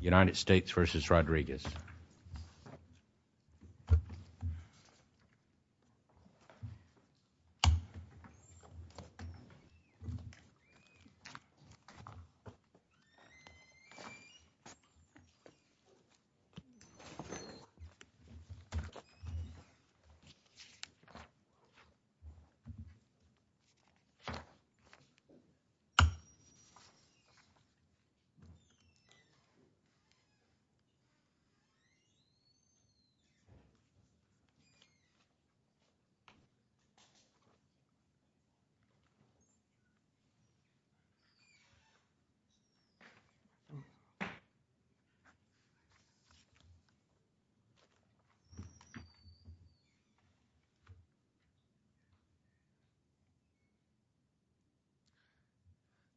United States v. Rodriguez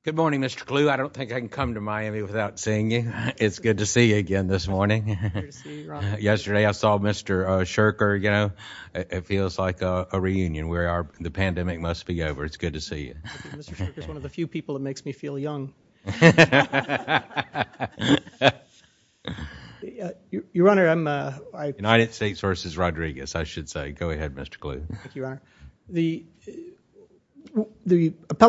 Good morning, Mr. Clue. I don't think I can come to Miami without seeing you. It's good to see you again this morning. Yesterday I saw Mr. Shurker, you know, it feels like a reunion where the pandemic must be over. It's good to see you. Mr. Shurker is one of the few people that makes me feel young. United States v. Rodriguez, I should say. Go ahead, Mr. Clue. Thank you, Your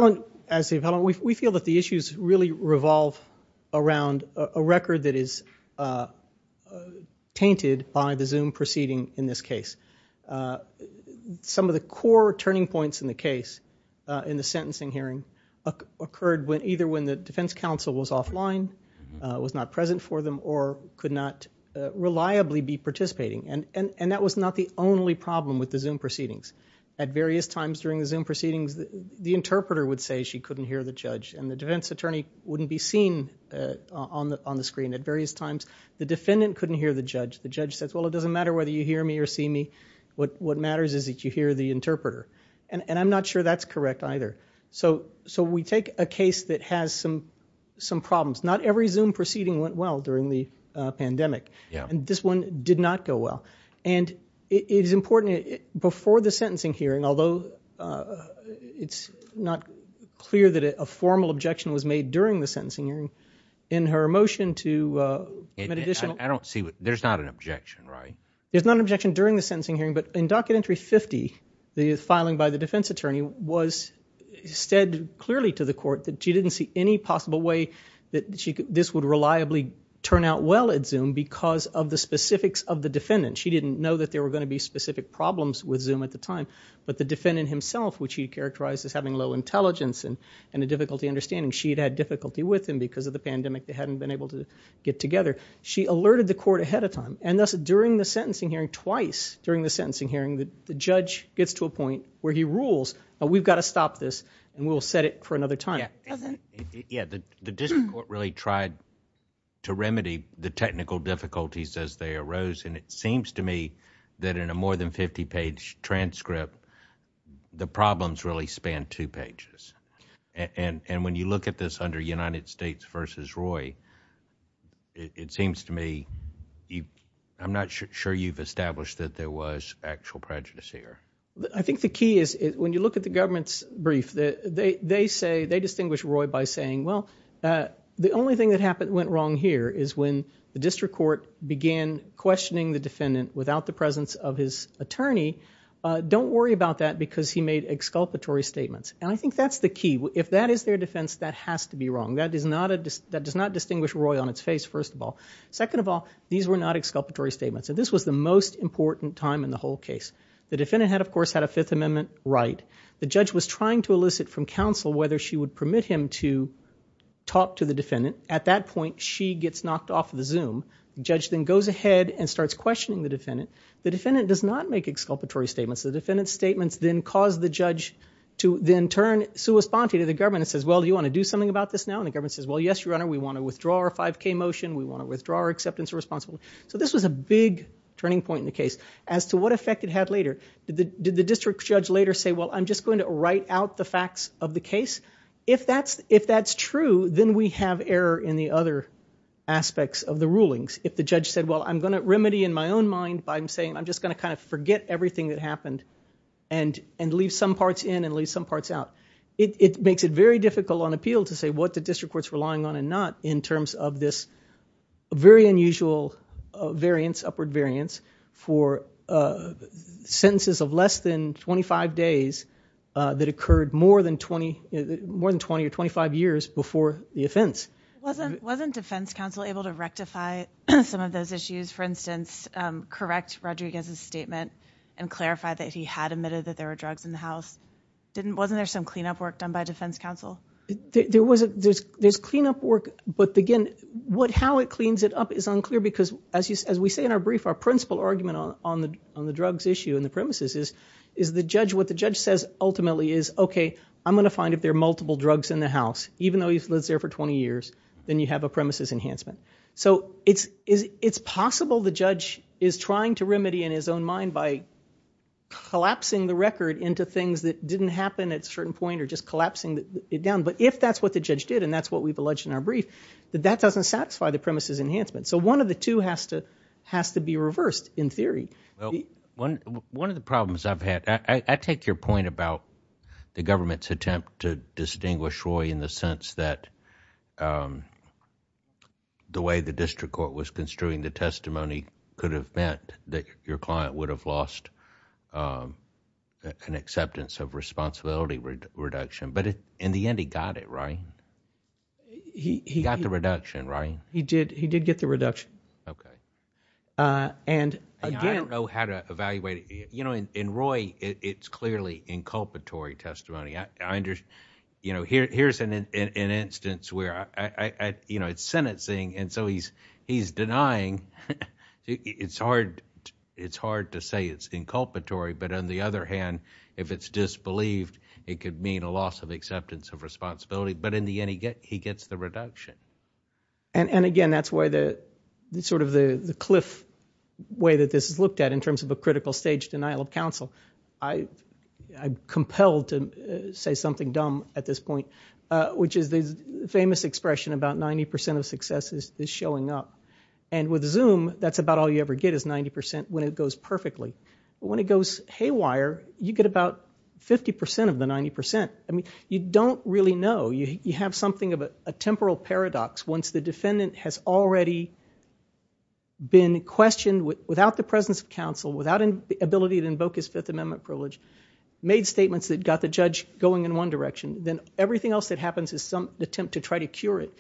Honor. As the appellant, we feel that the issues really revolve around a record that is tainted by the Zoom proceeding in this case. Some of the core turning points in the case in the sentencing hearing occurred either when the defense counsel was offline, was not present for them, or could not reliably be participating. And that was not the only problem with the Zoom proceedings. At various times during the Zoom proceedings, the interpreter would say she couldn't hear the judge and the defense attorney wouldn't be seen on the screen. At various times, the defendant couldn't hear the judge. The judge says, well, it doesn't matter whether you hear me or see me. What matters is that you hear the interpreter. And I'm not sure that's correct either. So we take a case that has some problems. Not every Zoom proceeding went well during the pandemic. And this one did not go well. And it is important, before the sentencing hearing, although it's not clear that a formal objection was made during the sentencing hearing, in her motion to make additional— I don't see—there's not an objection, right? There's not an objection during the sentencing hearing. But in Documentary 50, the filing by the defense attorney was—said clearly to the court that she didn't see any possible way that this would reliably turn out well at Zoom because of the specifics of the defendant. She didn't know that there were going to be specific problems with Zoom at the time. But the defendant himself, which he characterized as having low intelligence and a difficulty understanding, she'd had difficulty with him because of the pandemic. They hadn't been able to get together. She alerted the court ahead of time. And thus, during the sentencing hearing, twice during the sentencing hearing, the judge gets to a point where he rules, we've got to stop this and we'll set it for another time. Yeah, the district court really tried to remedy the technical difficulties as they arose. And it seems to me that in a more than 50-page transcript, the problems really span two pages. And when you look at this under United States v. Roy, it seems to me—I'm not sure you've established that there was actual prejudice here. I think the key is, when you look at the government's brief, they say—they distinguish Roy by saying, well, the only thing that went wrong is when the district court began questioning the defendant without the presence of his attorney. Don't worry about that because he made exculpatory statements. And I think that's the key. If that is their defense, that has to be wrong. That does not distinguish Roy on its face, first of all. Second of all, these were not exculpatory statements. And this was the most important time in the whole case. The defendant had, of course, had a Fifth Amendment right. The judge was trying to elicit from counsel whether she would permit him to the defendant. At that point, she gets knocked off of the Zoom. The judge then goes ahead and starts questioning the defendant. The defendant does not make exculpatory statements. The defendant's statements then cause the judge to then turn sua sponte to the government and says, well, do you want to do something about this now? And the government says, well, yes, your honor, we want to withdraw our 5K motion. We want to withdraw our acceptance of responsibility. So this was a big turning point in the case. As to what effect it had later, did the district judge later say, well, I'm just going to write out the facts of the case? If that's true, then we have error in the other aspects of the rulings. If the judge said, well, I'm going to remedy in my own mind by saying I'm just going to kind of forget everything that happened and leave some parts in and leave some parts out. It makes it very difficult on appeal to say what the district court's relying on and not in terms of this very unusual variance, upward variance, for sentences of less than 25 days that occurred more than 20 or 25 years before the offense. Wasn't defense counsel able to rectify some of those issues, for instance, correct Rodriguez's statement and clarify that he had admitted that there were drugs in the house? Wasn't there some cleanup work done by defense counsel? There's cleanup work, but again, how it cleans it up is unclear because as we say in our brief, our principal argument on the drugs issue and the premises is what the judge says ultimately is, okay, I'm going to find if there are multiple drugs in the house, even though he's lived there for 20 years, then you have a premises enhancement. So it's possible the judge is trying to remedy in his own mind by collapsing the record into things that didn't happen at a certain point or just collapsing it down. But if that's what the premises enhancement, so one of the two has to be reversed in theory. One of the problems I've had, I take your point about the government's attempt to distinguish Roy in the sense that the way the district court was construing the testimony could have meant that your client would have lost an acceptance of responsibility reduction. But in the end, he got it, right? He got the reduction, right? He did. He did get the reduction. Okay. And again, I don't know how to evaluate it. In Roy, it's clearly inculpatory testimony. Here's an instance where it's sentencing and so he's denying. It's hard to say it's inculpatory, but on the other hand, if it's disbelieved, it could mean a loss of acceptance of responsibility. But in the end, he gets the reduction. And again, that's why the sort of the cliff way that this is looked at in terms of a critical stage denial of counsel. I'm compelled to say something dumb at this point, which is the famous expression about 90% of success is showing up. And with Zoom, that's about all you ever get is 90% when it goes perfectly. When it goes haywire, you get about 50% of the 90%. You don't really know. You have something of a temporal paradox once the defendant has already been questioned without the presence of counsel, without the ability to invoke his Fifth Amendment privilege, made statements that got the judge going in one direction. Then everything else that happens is some attempt to try to cure it.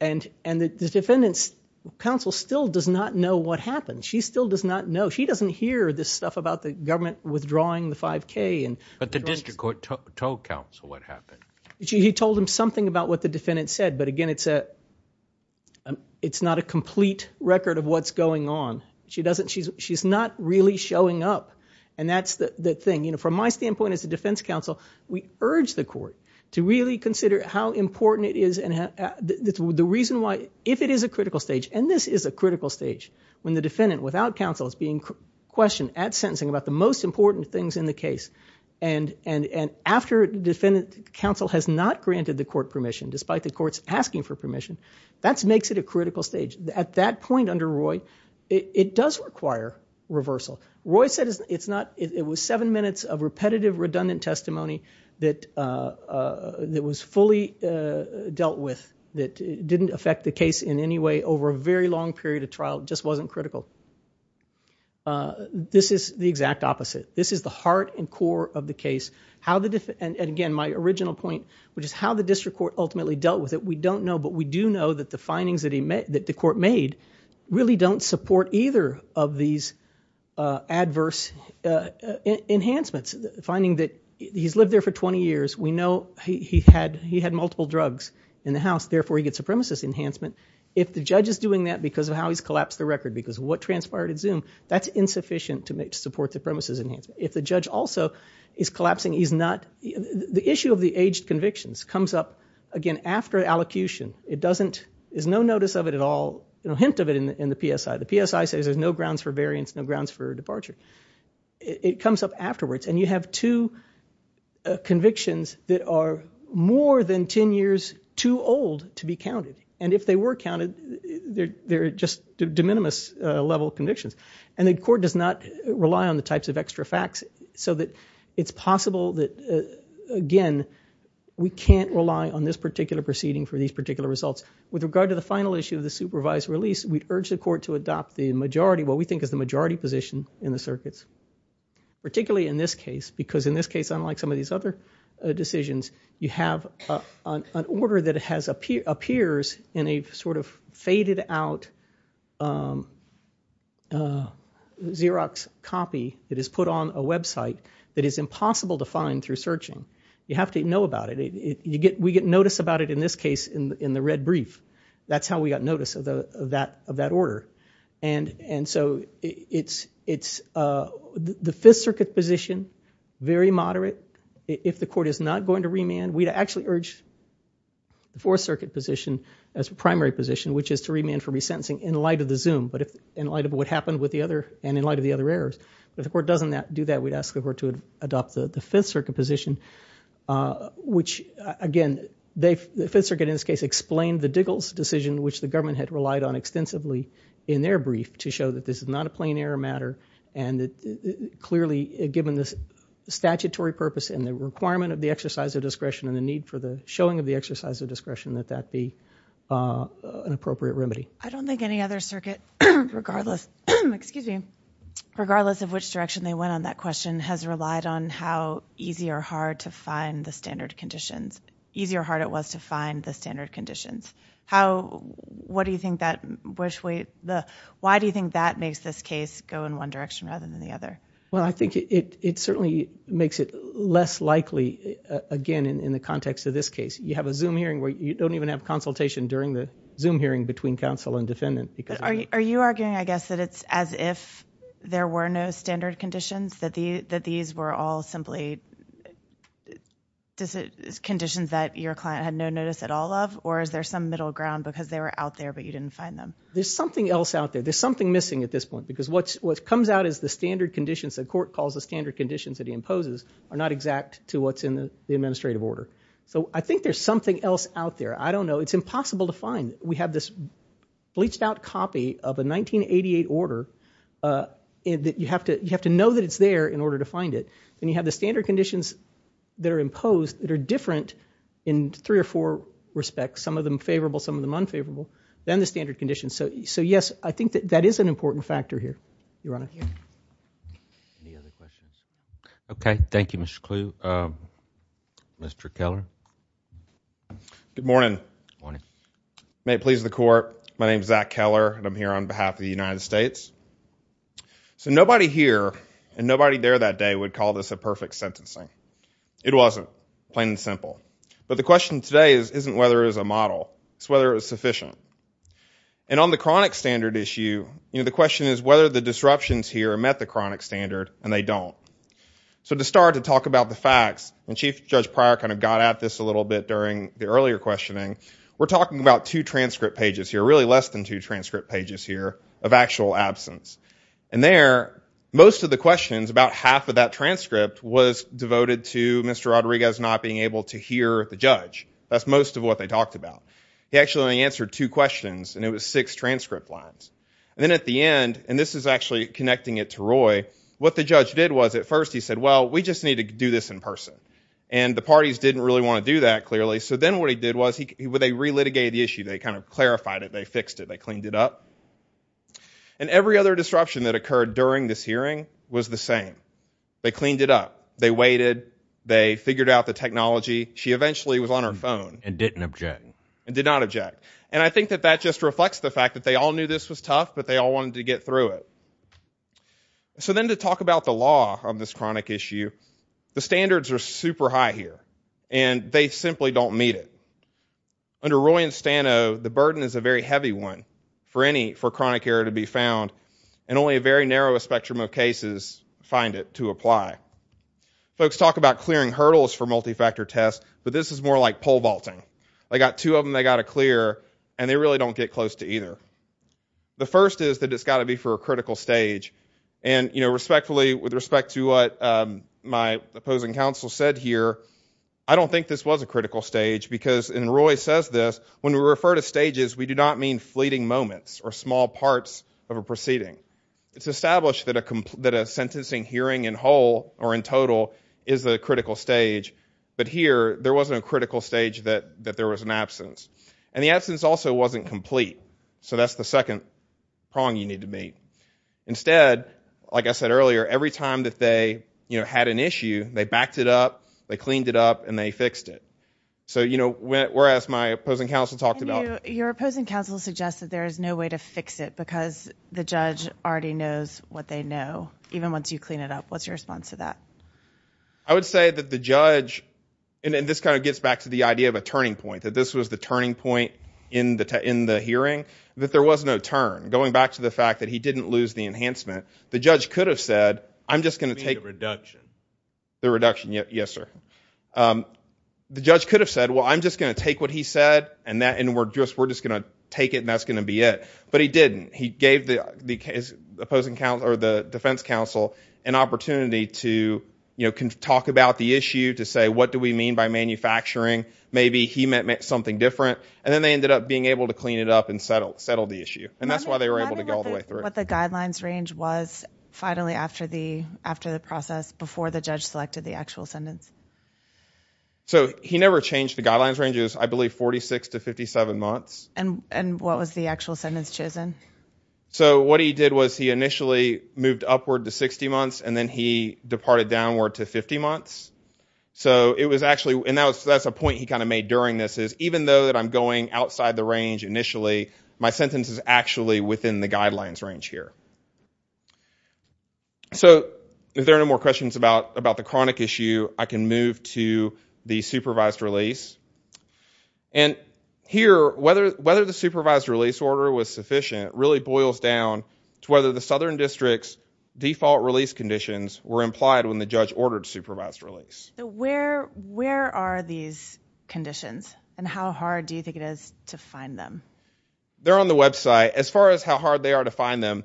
And the defendant's counsel still does not know what happened. She still does not know. She doesn't hear this stuff about the government withdrawing the 5K. But the district court told counsel what happened. He told him something about what the defendant said. But again, it's not a complete record of what's going on. She's not really showing up. And that's the thing. From my standpoint as a defense counsel, we urge the court to really consider how important it is and the reason why, if it is a critical stage. When the defendant without counsel is being questioned at sentencing about the most important things in the case, and after defendant counsel has not granted the court permission, despite the court's asking for permission, that makes it a critical stage. At that point under Roy, it does require reversal. Roy said it was seven minutes of repetitive, redundant testimony that was fully dealt with that didn't affect the case in any way over a very long period of trial. It just wasn't critical. This is the exact opposite. This is the heart and core of the case. And again, my original point, which is how the district court ultimately dealt with it, we don't know. But we do know that the findings that the court made really don't support either of these adverse enhancements. Finding that he's lived there for 20 years, we know he had multiple drugs in the house, therefore he gets supremacist enhancement. If the judge is doing that because of how he's collapsed the record, because of what transpired at Zoom, that's insufficient to support supremacist enhancement. If the judge also is collapsing, he's not, the issue of the aged convictions comes up again after allocution. It doesn't, there's no notice of it at all, no hint of it in the PSI. The PSI says there's no grounds for variance, no grounds for departure. It comes up afterwards and you have two accounted, they're just de minimis level convictions. And the court does not rely on the types of extra facts so that it's possible that, again, we can't rely on this particular proceeding for these particular results. With regard to the final issue of the supervised release, we urge the court to adopt the majority, what we think is the majority position in the circuits. Particularly in this case, because in this case, unlike some of these other decisions, you have an order that appears in a sort of faded out Xerox copy that is put on a website that is impossible to find through searching. You have to know about it. We get notice about it in this case in the red brief. That's how we got notice of that order. And so it's, the Fifth Circuit position, very moderate. If the court is not going to remand, we'd actually urge the Fourth Circuit position as a primary position, which is to remand for resentencing in light of the Zoom, but in light of what happened with the other, and in light of the other errors. If the court doesn't do that, we'd ask the court to adopt the Fifth Circuit position, which again, the Fifth Circuit in this case explained the Diggles decision, which the government had relied on extensively in their brief to show that this is not a plain error and that clearly, given the statutory purpose and the requirement of the exercise of discretion and the need for the showing of the exercise of discretion, that that be an appropriate remedy. I don't think any other circuit, regardless, excuse me, regardless of which direction they went on that question, has relied on how easy or hard to find the standard conditions. Easy or hard it was to find the standard conditions. How, what do you think that, which way, why do you think that makes this case go in one direction rather than the other? Well, I think it certainly makes it less likely, again, in the context of this case. You have a Zoom hearing where you don't even have consultation during the Zoom hearing between counsel and defendant. Are you arguing, I guess, that it's as if there were no standard conditions, that these were all simply conditions that your client had no notice at all of, or is there some middle ground because they were out there but you didn't find them? There's something else out there. There's something missing at this point because what's, what comes out is the standard conditions, the court calls the standard conditions that he imposes, are not exact to what's in the administrative order. So I think there's something else out there. I don't know. It's impossible to find. We have this bleached out copy of a 1988 order that you have to, you have to know that it's there in order to find it. Then you have the standard conditions that are imposed that are unfavorable than the standard conditions. So yes, I think that that is an important factor here, Your Honor. Any other questions? Okay, thank you, Mr. Kluge. Mr. Keller? Good morning. May it please the court, my name is Zach Keller and I'm here on behalf of the United States. So nobody here and nobody there that day would call this a perfect sentencing. It wasn't, plain and simple. But the question today isn't whether it's a model, it's whether it's sufficient. And on the chronic standard issue, you know, the question is whether the disruptions here met the chronic standard and they don't. So to start to talk about the facts, and Chief Judge Pryor kind of got at this a little bit during the earlier questioning, we're talking about two transcript pages here, really less than two transcript pages here, of actual absence. And there, most of the questions, about half of that transcript was devoted to Mr. Rodriguez not being able to hear the judge. That's most of what they talked about. He actually only answered two questions and it was six transcript lines. And then at the end, and this is actually connecting it to Roy, what the judge did was, at first he said, well, we just need to do this in person. And the parties didn't really want to do that, clearly. So then what he did was, they re-litigated the issue, they kind of clarified it, they fixed it, they cleaned it up. And every other disruption that occurred during this hearing was the same. They cleaned it up, they waited, they figured out the technology, she eventually was on her phone. And didn't object. And did not object. And I think that that just reflects the fact that they all knew this was tough, but they all wanted to get through it. So then to talk about the law on this chronic issue, the standards are super high here, and they simply don't meet it. Under Roy and Stano, the burden is a very heavy one for any, for chronic error to be found, and only a very narrow spectrum of cases find it to apply. Folks talk about clearing hurdles for multi-factor tests, but this is more like pole vaulting. They got two of them, they got to clear, and they really don't get close to either. The first is that it's got to be for a critical stage. And, you know, respectfully, with respect to what my opposing counsel said here, I don't think this was a critical stage, because, and Roy says this, when we refer to stages, we do not mean fleeting moments, or small parts of a proceeding. It's established that a sentencing hearing in whole, or in total, is the critical stage. But here, there wasn't a critical stage that there was an absence. And the absence also wasn't complete. So that's the second prong you need to meet. Instead, like I said earlier, every time that they, you know, had an issue, they backed it up, they cleaned it up, and they fixed it. So, you know, whereas my opposing counsel talked about... Your opposing counsel suggested there is no way to fix it, because the judge already knows what they know, even once you clean it up. What's your response to that? I would say that the judge, and this kind of gets back to the idea of a turning point, that this was the turning point in the hearing, that there was no turn, going back to the fact that he didn't lose the enhancement. The judge could have said, I'm just going to take... You mean the reduction? The reduction, yes, sir. The judge could have said, well, I'm just going to take what he said, and we're just going to take it, and that's going to be it. But he didn't. He gave the defense counsel an opportunity to, you know, talk about the issue, to say, what do we mean by manufacturing? Maybe he meant something different. And then they ended up being able to clean it up and settle the issue. And that's why they were able to go all the way through. What the guidelines range was finally after the process, before the judge selected the actual sentence? So, he never changed the guidelines range. It was, I believe, 46 to 57 months. And what was the actual sentence chosen? So, what he did was, he initially moved upward to 60 months, and then he departed downward to 50 months. So, it was actually... And that's a point he kind of made during this, is even though that I'm going outside the range initially, my sentence is actually within the guidelines range here. So, if there are no more questions about the chronic issue, I can move to the supervised release. And here, whether the supervised release order was sufficient really boils down to whether the Southern District's default release conditions were implied when the judge ordered supervised release. So, where are these conditions? And how hard do you think it is to find them? They're on the website. As far as how hard they are to find them,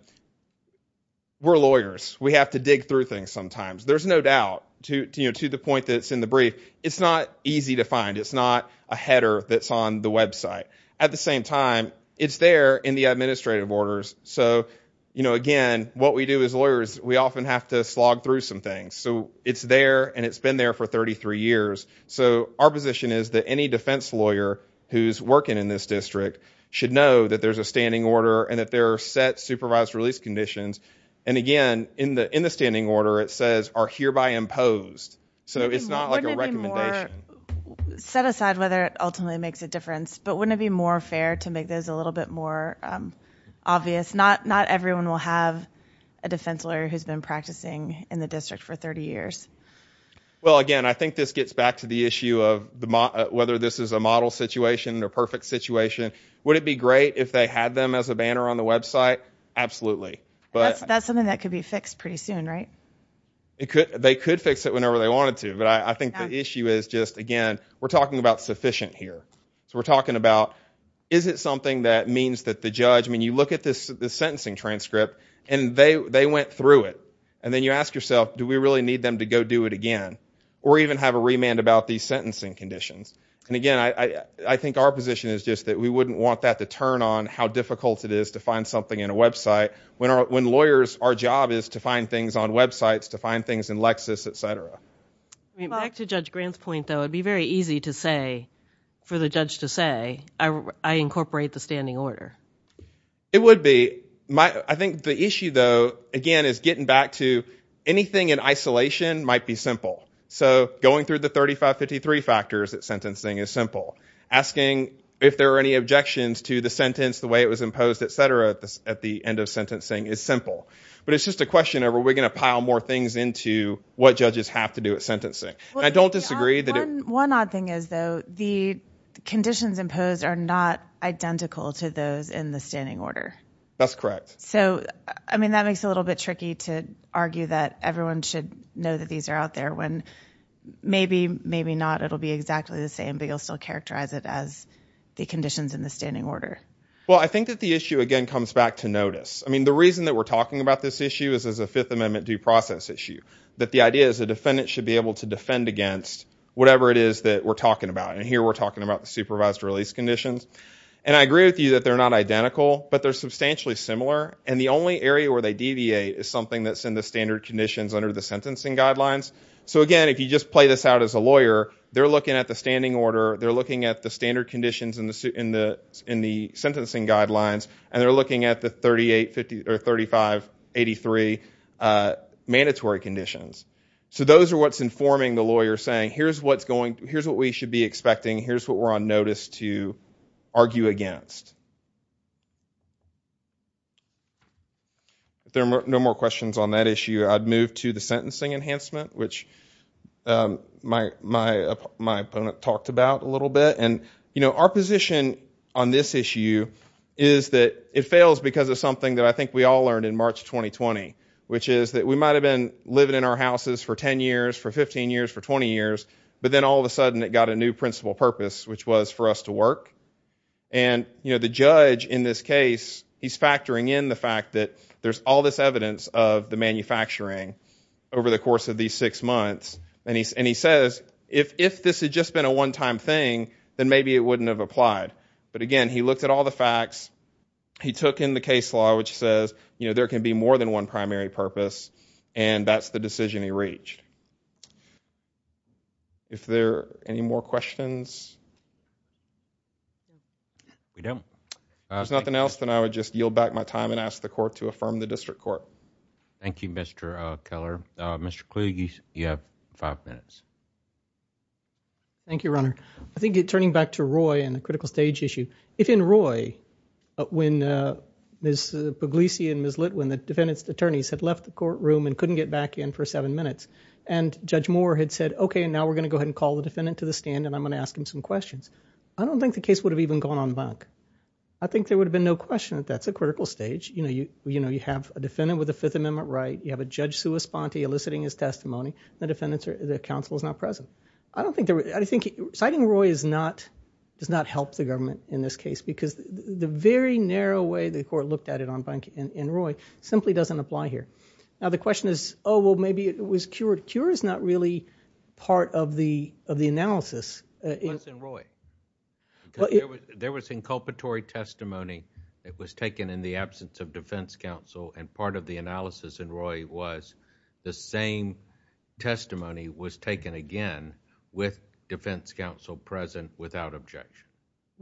we're lawyers. We have to dig through things sometimes. There's no doubt, to the point that it's in the brief, it's not easy to find. It's not a header that's on the website. At the same time, it's there in the administrative orders. So, again, what we do as lawyers, we often have to slog through some things. So, it's there, and it's been there for 33 years. So, our position is that any defense lawyer who's working in this district should know that there's a standing order and that there are set supervised release conditions. And again, in the standing order, it says, are hereby imposed. So, it's not like a recommendation. Wouldn't it be more, set aside whether it ultimately makes a difference, but wouldn't it be more fair to make those a little bit more obvious? Not everyone will have a defense lawyer who's been practicing in the district for 30 years. Well, again, I think this gets back to the issue of whether this is a model situation or perfect situation. Would it be great if they had them as a banner on the website? Absolutely. That's something that could be fixed pretty soon, right? They could fix it whenever they wanted to, but I think the issue is just, again, we're talking about sufficient here. So, we're talking about, is it something that means that the judge, I mean, you look at this sentencing transcript, and they went through it. And then you ask yourself, do we really need them to go do it again? Or even have a remand about these sentencing conditions? And again, I think our position is just that we wouldn't want that to turn on how difficult it is to find something in a website when lawyers, our job is to find things on websites, to find things in Lexis, et cetera. I mean, back to Judge Grant's point, though, it'd be very easy to say, for the judge to say, I incorporate the standing order. It would be. I think the issue, though, again, is getting back to anything in isolation might be simple. So, going through the 3553 factors at sentencing is simple. Asking if there are any objections to the sentence, the way it was imposed, et cetera, at the end of sentencing is simple. But it's just a question of, are we going to pile more things into what judges have to do at sentencing? And I don't disagree that- One odd thing is, though, the conditions imposed are not identical to those in the standing order. That's correct. So, I mean, that makes it a little bit tricky to argue that everyone should know that these are out there when maybe, maybe not. It'll be exactly the same, but you'll still characterize it as the conditions in the standing order. Well, I think that the issue, again, comes back to notice. I mean, the reason that we're talking about this issue is as a Fifth Amendment due process issue. That the idea is a defendant should be able to defend against whatever it is that we're talking about. And here we're talking about the supervised release conditions. And I agree with you that they're not identical, but they're substantially similar. And the only area where they deviate is something that's So, again, if you just play this out as a lawyer, they're looking at the standing order, they're looking at the standard conditions in the sentencing guidelines, and they're looking at the 3583 mandatory conditions. So, those are what's informing the lawyer saying, here's what we should be expecting. Here's what we're on notice to argue against. If there are no more questions on that issue, I'd move to the sentencing enhancement, which my opponent talked about a little bit. And our position on this issue is that it fails because of something that I think we all learned in March 2020, which is that we might have been living in our houses for 10 years, for 15 years, for 20 years, but then all of a sudden it got a new principal purpose, which was for us to work. And the judge in this case, he's factoring in the fact that there's all this evidence of the manufacturing over the course of these six months, and he says, if this had just been a one-time thing, then maybe it wouldn't have applied. But again, he looked at all the facts, he took in the case law, which says, you know, there can be more than one primary purpose, and that's the decision he reached. If there are any more questions? We don't. If there's nothing else, then I would just yield back my time and ask the court to affirm the district court. Thank you, Mr. Keller. Mr. Kluge, you have five minutes. Thank you, Your Honor. I think turning back to Roy and the critical stage issue, if in Roy, when Ms. Pugliese and Ms. Litwin, the defendant's attorneys had left the courtroom and couldn't get back in for seven minutes, and Judge Moore had said, okay, and now we're going to go ahead and call the defendant to the stand and I'm going to ask him some questions. I don't think the case would have even gone on back. I think there would have been no question that that's a critical stage. You have a defendant with a Fifth Amendment right, you have a Judge sua sponte eliciting his testimony, and the counsel is not present. Citing Roy does not help the government in this case because the very narrow way the court looked at it in Roy simply doesn't apply here. Now, the question is, oh, well, maybe it was cured. Cure is not really part of the analysis. It was in Roy. There was inculpatory testimony. It was taken in the absence of defense counsel, and part of the analysis in Roy was the same testimony was taken again with defense counsel present without objection.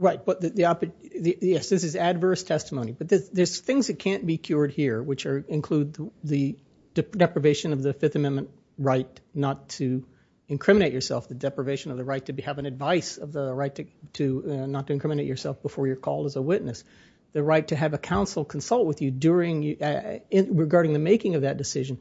Yes, this is adverse testimony, but there's things that can't be cured here which include the deprivation of the Fifth Amendment right not to incriminate yourself, the deprivation of the right to have an advice of the right not to incriminate yourself before you're called as a witness, the right to have a counsel consult with you regarding the making of that decision.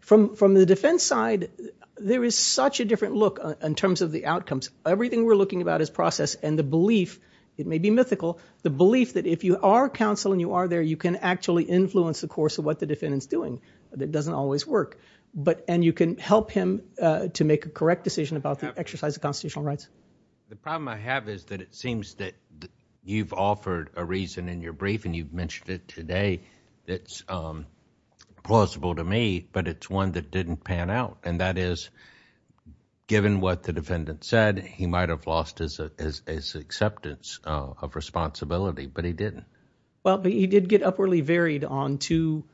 From the defense side, there is such a different look in terms of the outcomes. Everything we're looking about is process, and the belief, it may be mythical, the belief that if you are counsel and you are there, you can actually influence the course of what the defendant's doing. It doesn't always work, and you can help him to make a correct decision about the exercise of constitutional rights. The problem I have is that it seems that you've offered a reason in your brief, and you've mentioned it today. It's plausible to me, but it's one that didn't pan out, and that is given what the defendant said, he might have lost his acceptance of responsibility, but he didn't. Well, but he did get upwardly varied on to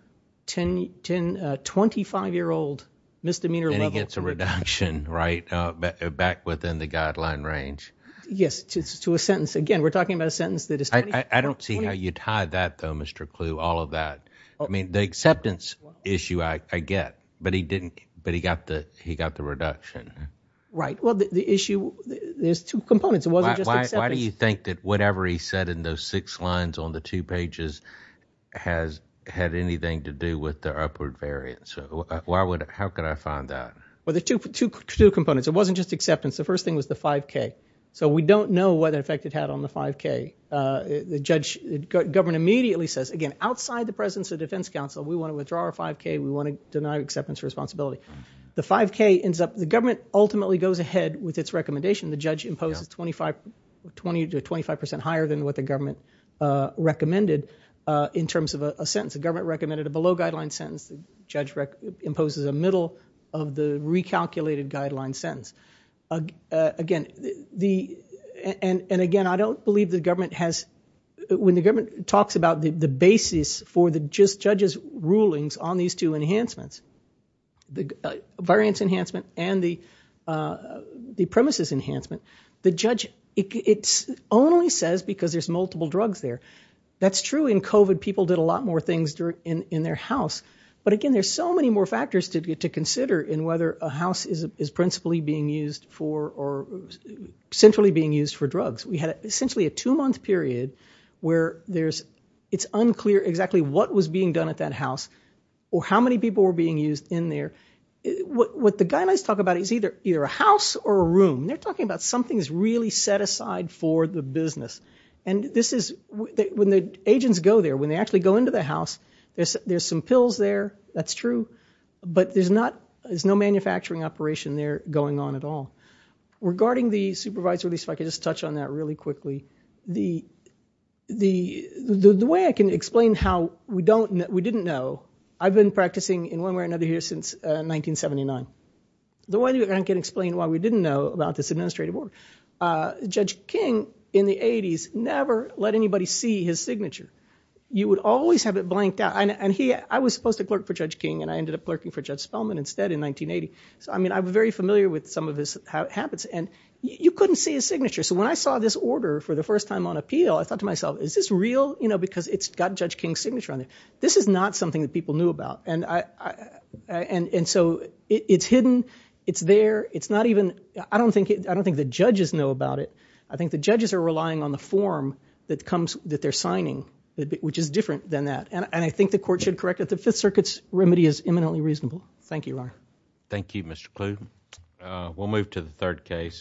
25-year-old misdemeanor level. It's a reduction, right? Back within the guideline range. Yes, to a sentence. Again, we're talking about a sentence that is... I don't see how you tie that though, Mr. Clu, all of that. I mean, the acceptance issue I get, but he didn't, but he got the reduction. Right. Well, the issue, there's two components. It wasn't just acceptance. Why do you think that whatever he said in those six lines on the two pages has had anything to do with the upward variance? How could I find that? Two components. It wasn't just acceptance. The first thing was the 5K. So we don't know what effect it had on the 5K. The judge, the government immediately says, again, outside the presence of defense counsel, we want to withdraw our 5K. We want to deny acceptance of responsibility. The 5K ends up, the government ultimately goes ahead with its recommendation. The judge imposes 20 to 25% higher than what the government recommended in terms of a sentence. The government recommended a below guideline sentence. Judge imposes a middle of the recalculated guideline sentence. Again, the, and again, I don't believe the government has, when the government talks about the basis for the judge's rulings on these two enhancements, the variance enhancement and the premises enhancement, the judge, it only says because there's multiple drugs there. That's true in COVID. People did a lot more things in their house. But again, there's so many more factors to consider in whether a house is principally being used for, or centrally being used for drugs. We had essentially a two month period where there's, it's unclear exactly what was being done at that house or how many people were being used in there. What the guidelines talk about is either a house or a room. They're talking about something's really set aside for the business. And this is, when the agents go there, when they actually go into the house, there's some pills there. That's true. But there's not, there's no manufacturing operation there going on at all. Regarding the supervisory, if I could just touch on that really quickly, the way I can explain how we don't, we didn't know, I've been practicing in one way or another here since 1979. The way I can explain why we didn't know about this administrative work, Judge King in the 80s never let anybody see his signature. You would always have it blanked out. I was supposed to clerk for Judge King and I ended up clerking for Judge Spellman instead in 1980. So I mean, I'm very familiar with some of his habits and you couldn't see his signature. So when I saw this order for the first time on appeal, I thought to myself, is this real? Because it's got Judge King's signature on it. This is not something that people knew about. And so it's hidden. It's there. It's not even, I don't think the judges know about it. I think the judges are relying on the form that comes, that they're signing, which is different than that. And I think the court should correct it. The Fifth Circuit's remedy is eminently reasonable. Thank you, Ron. Thank you, Mr. Kluge. We'll move to the third case.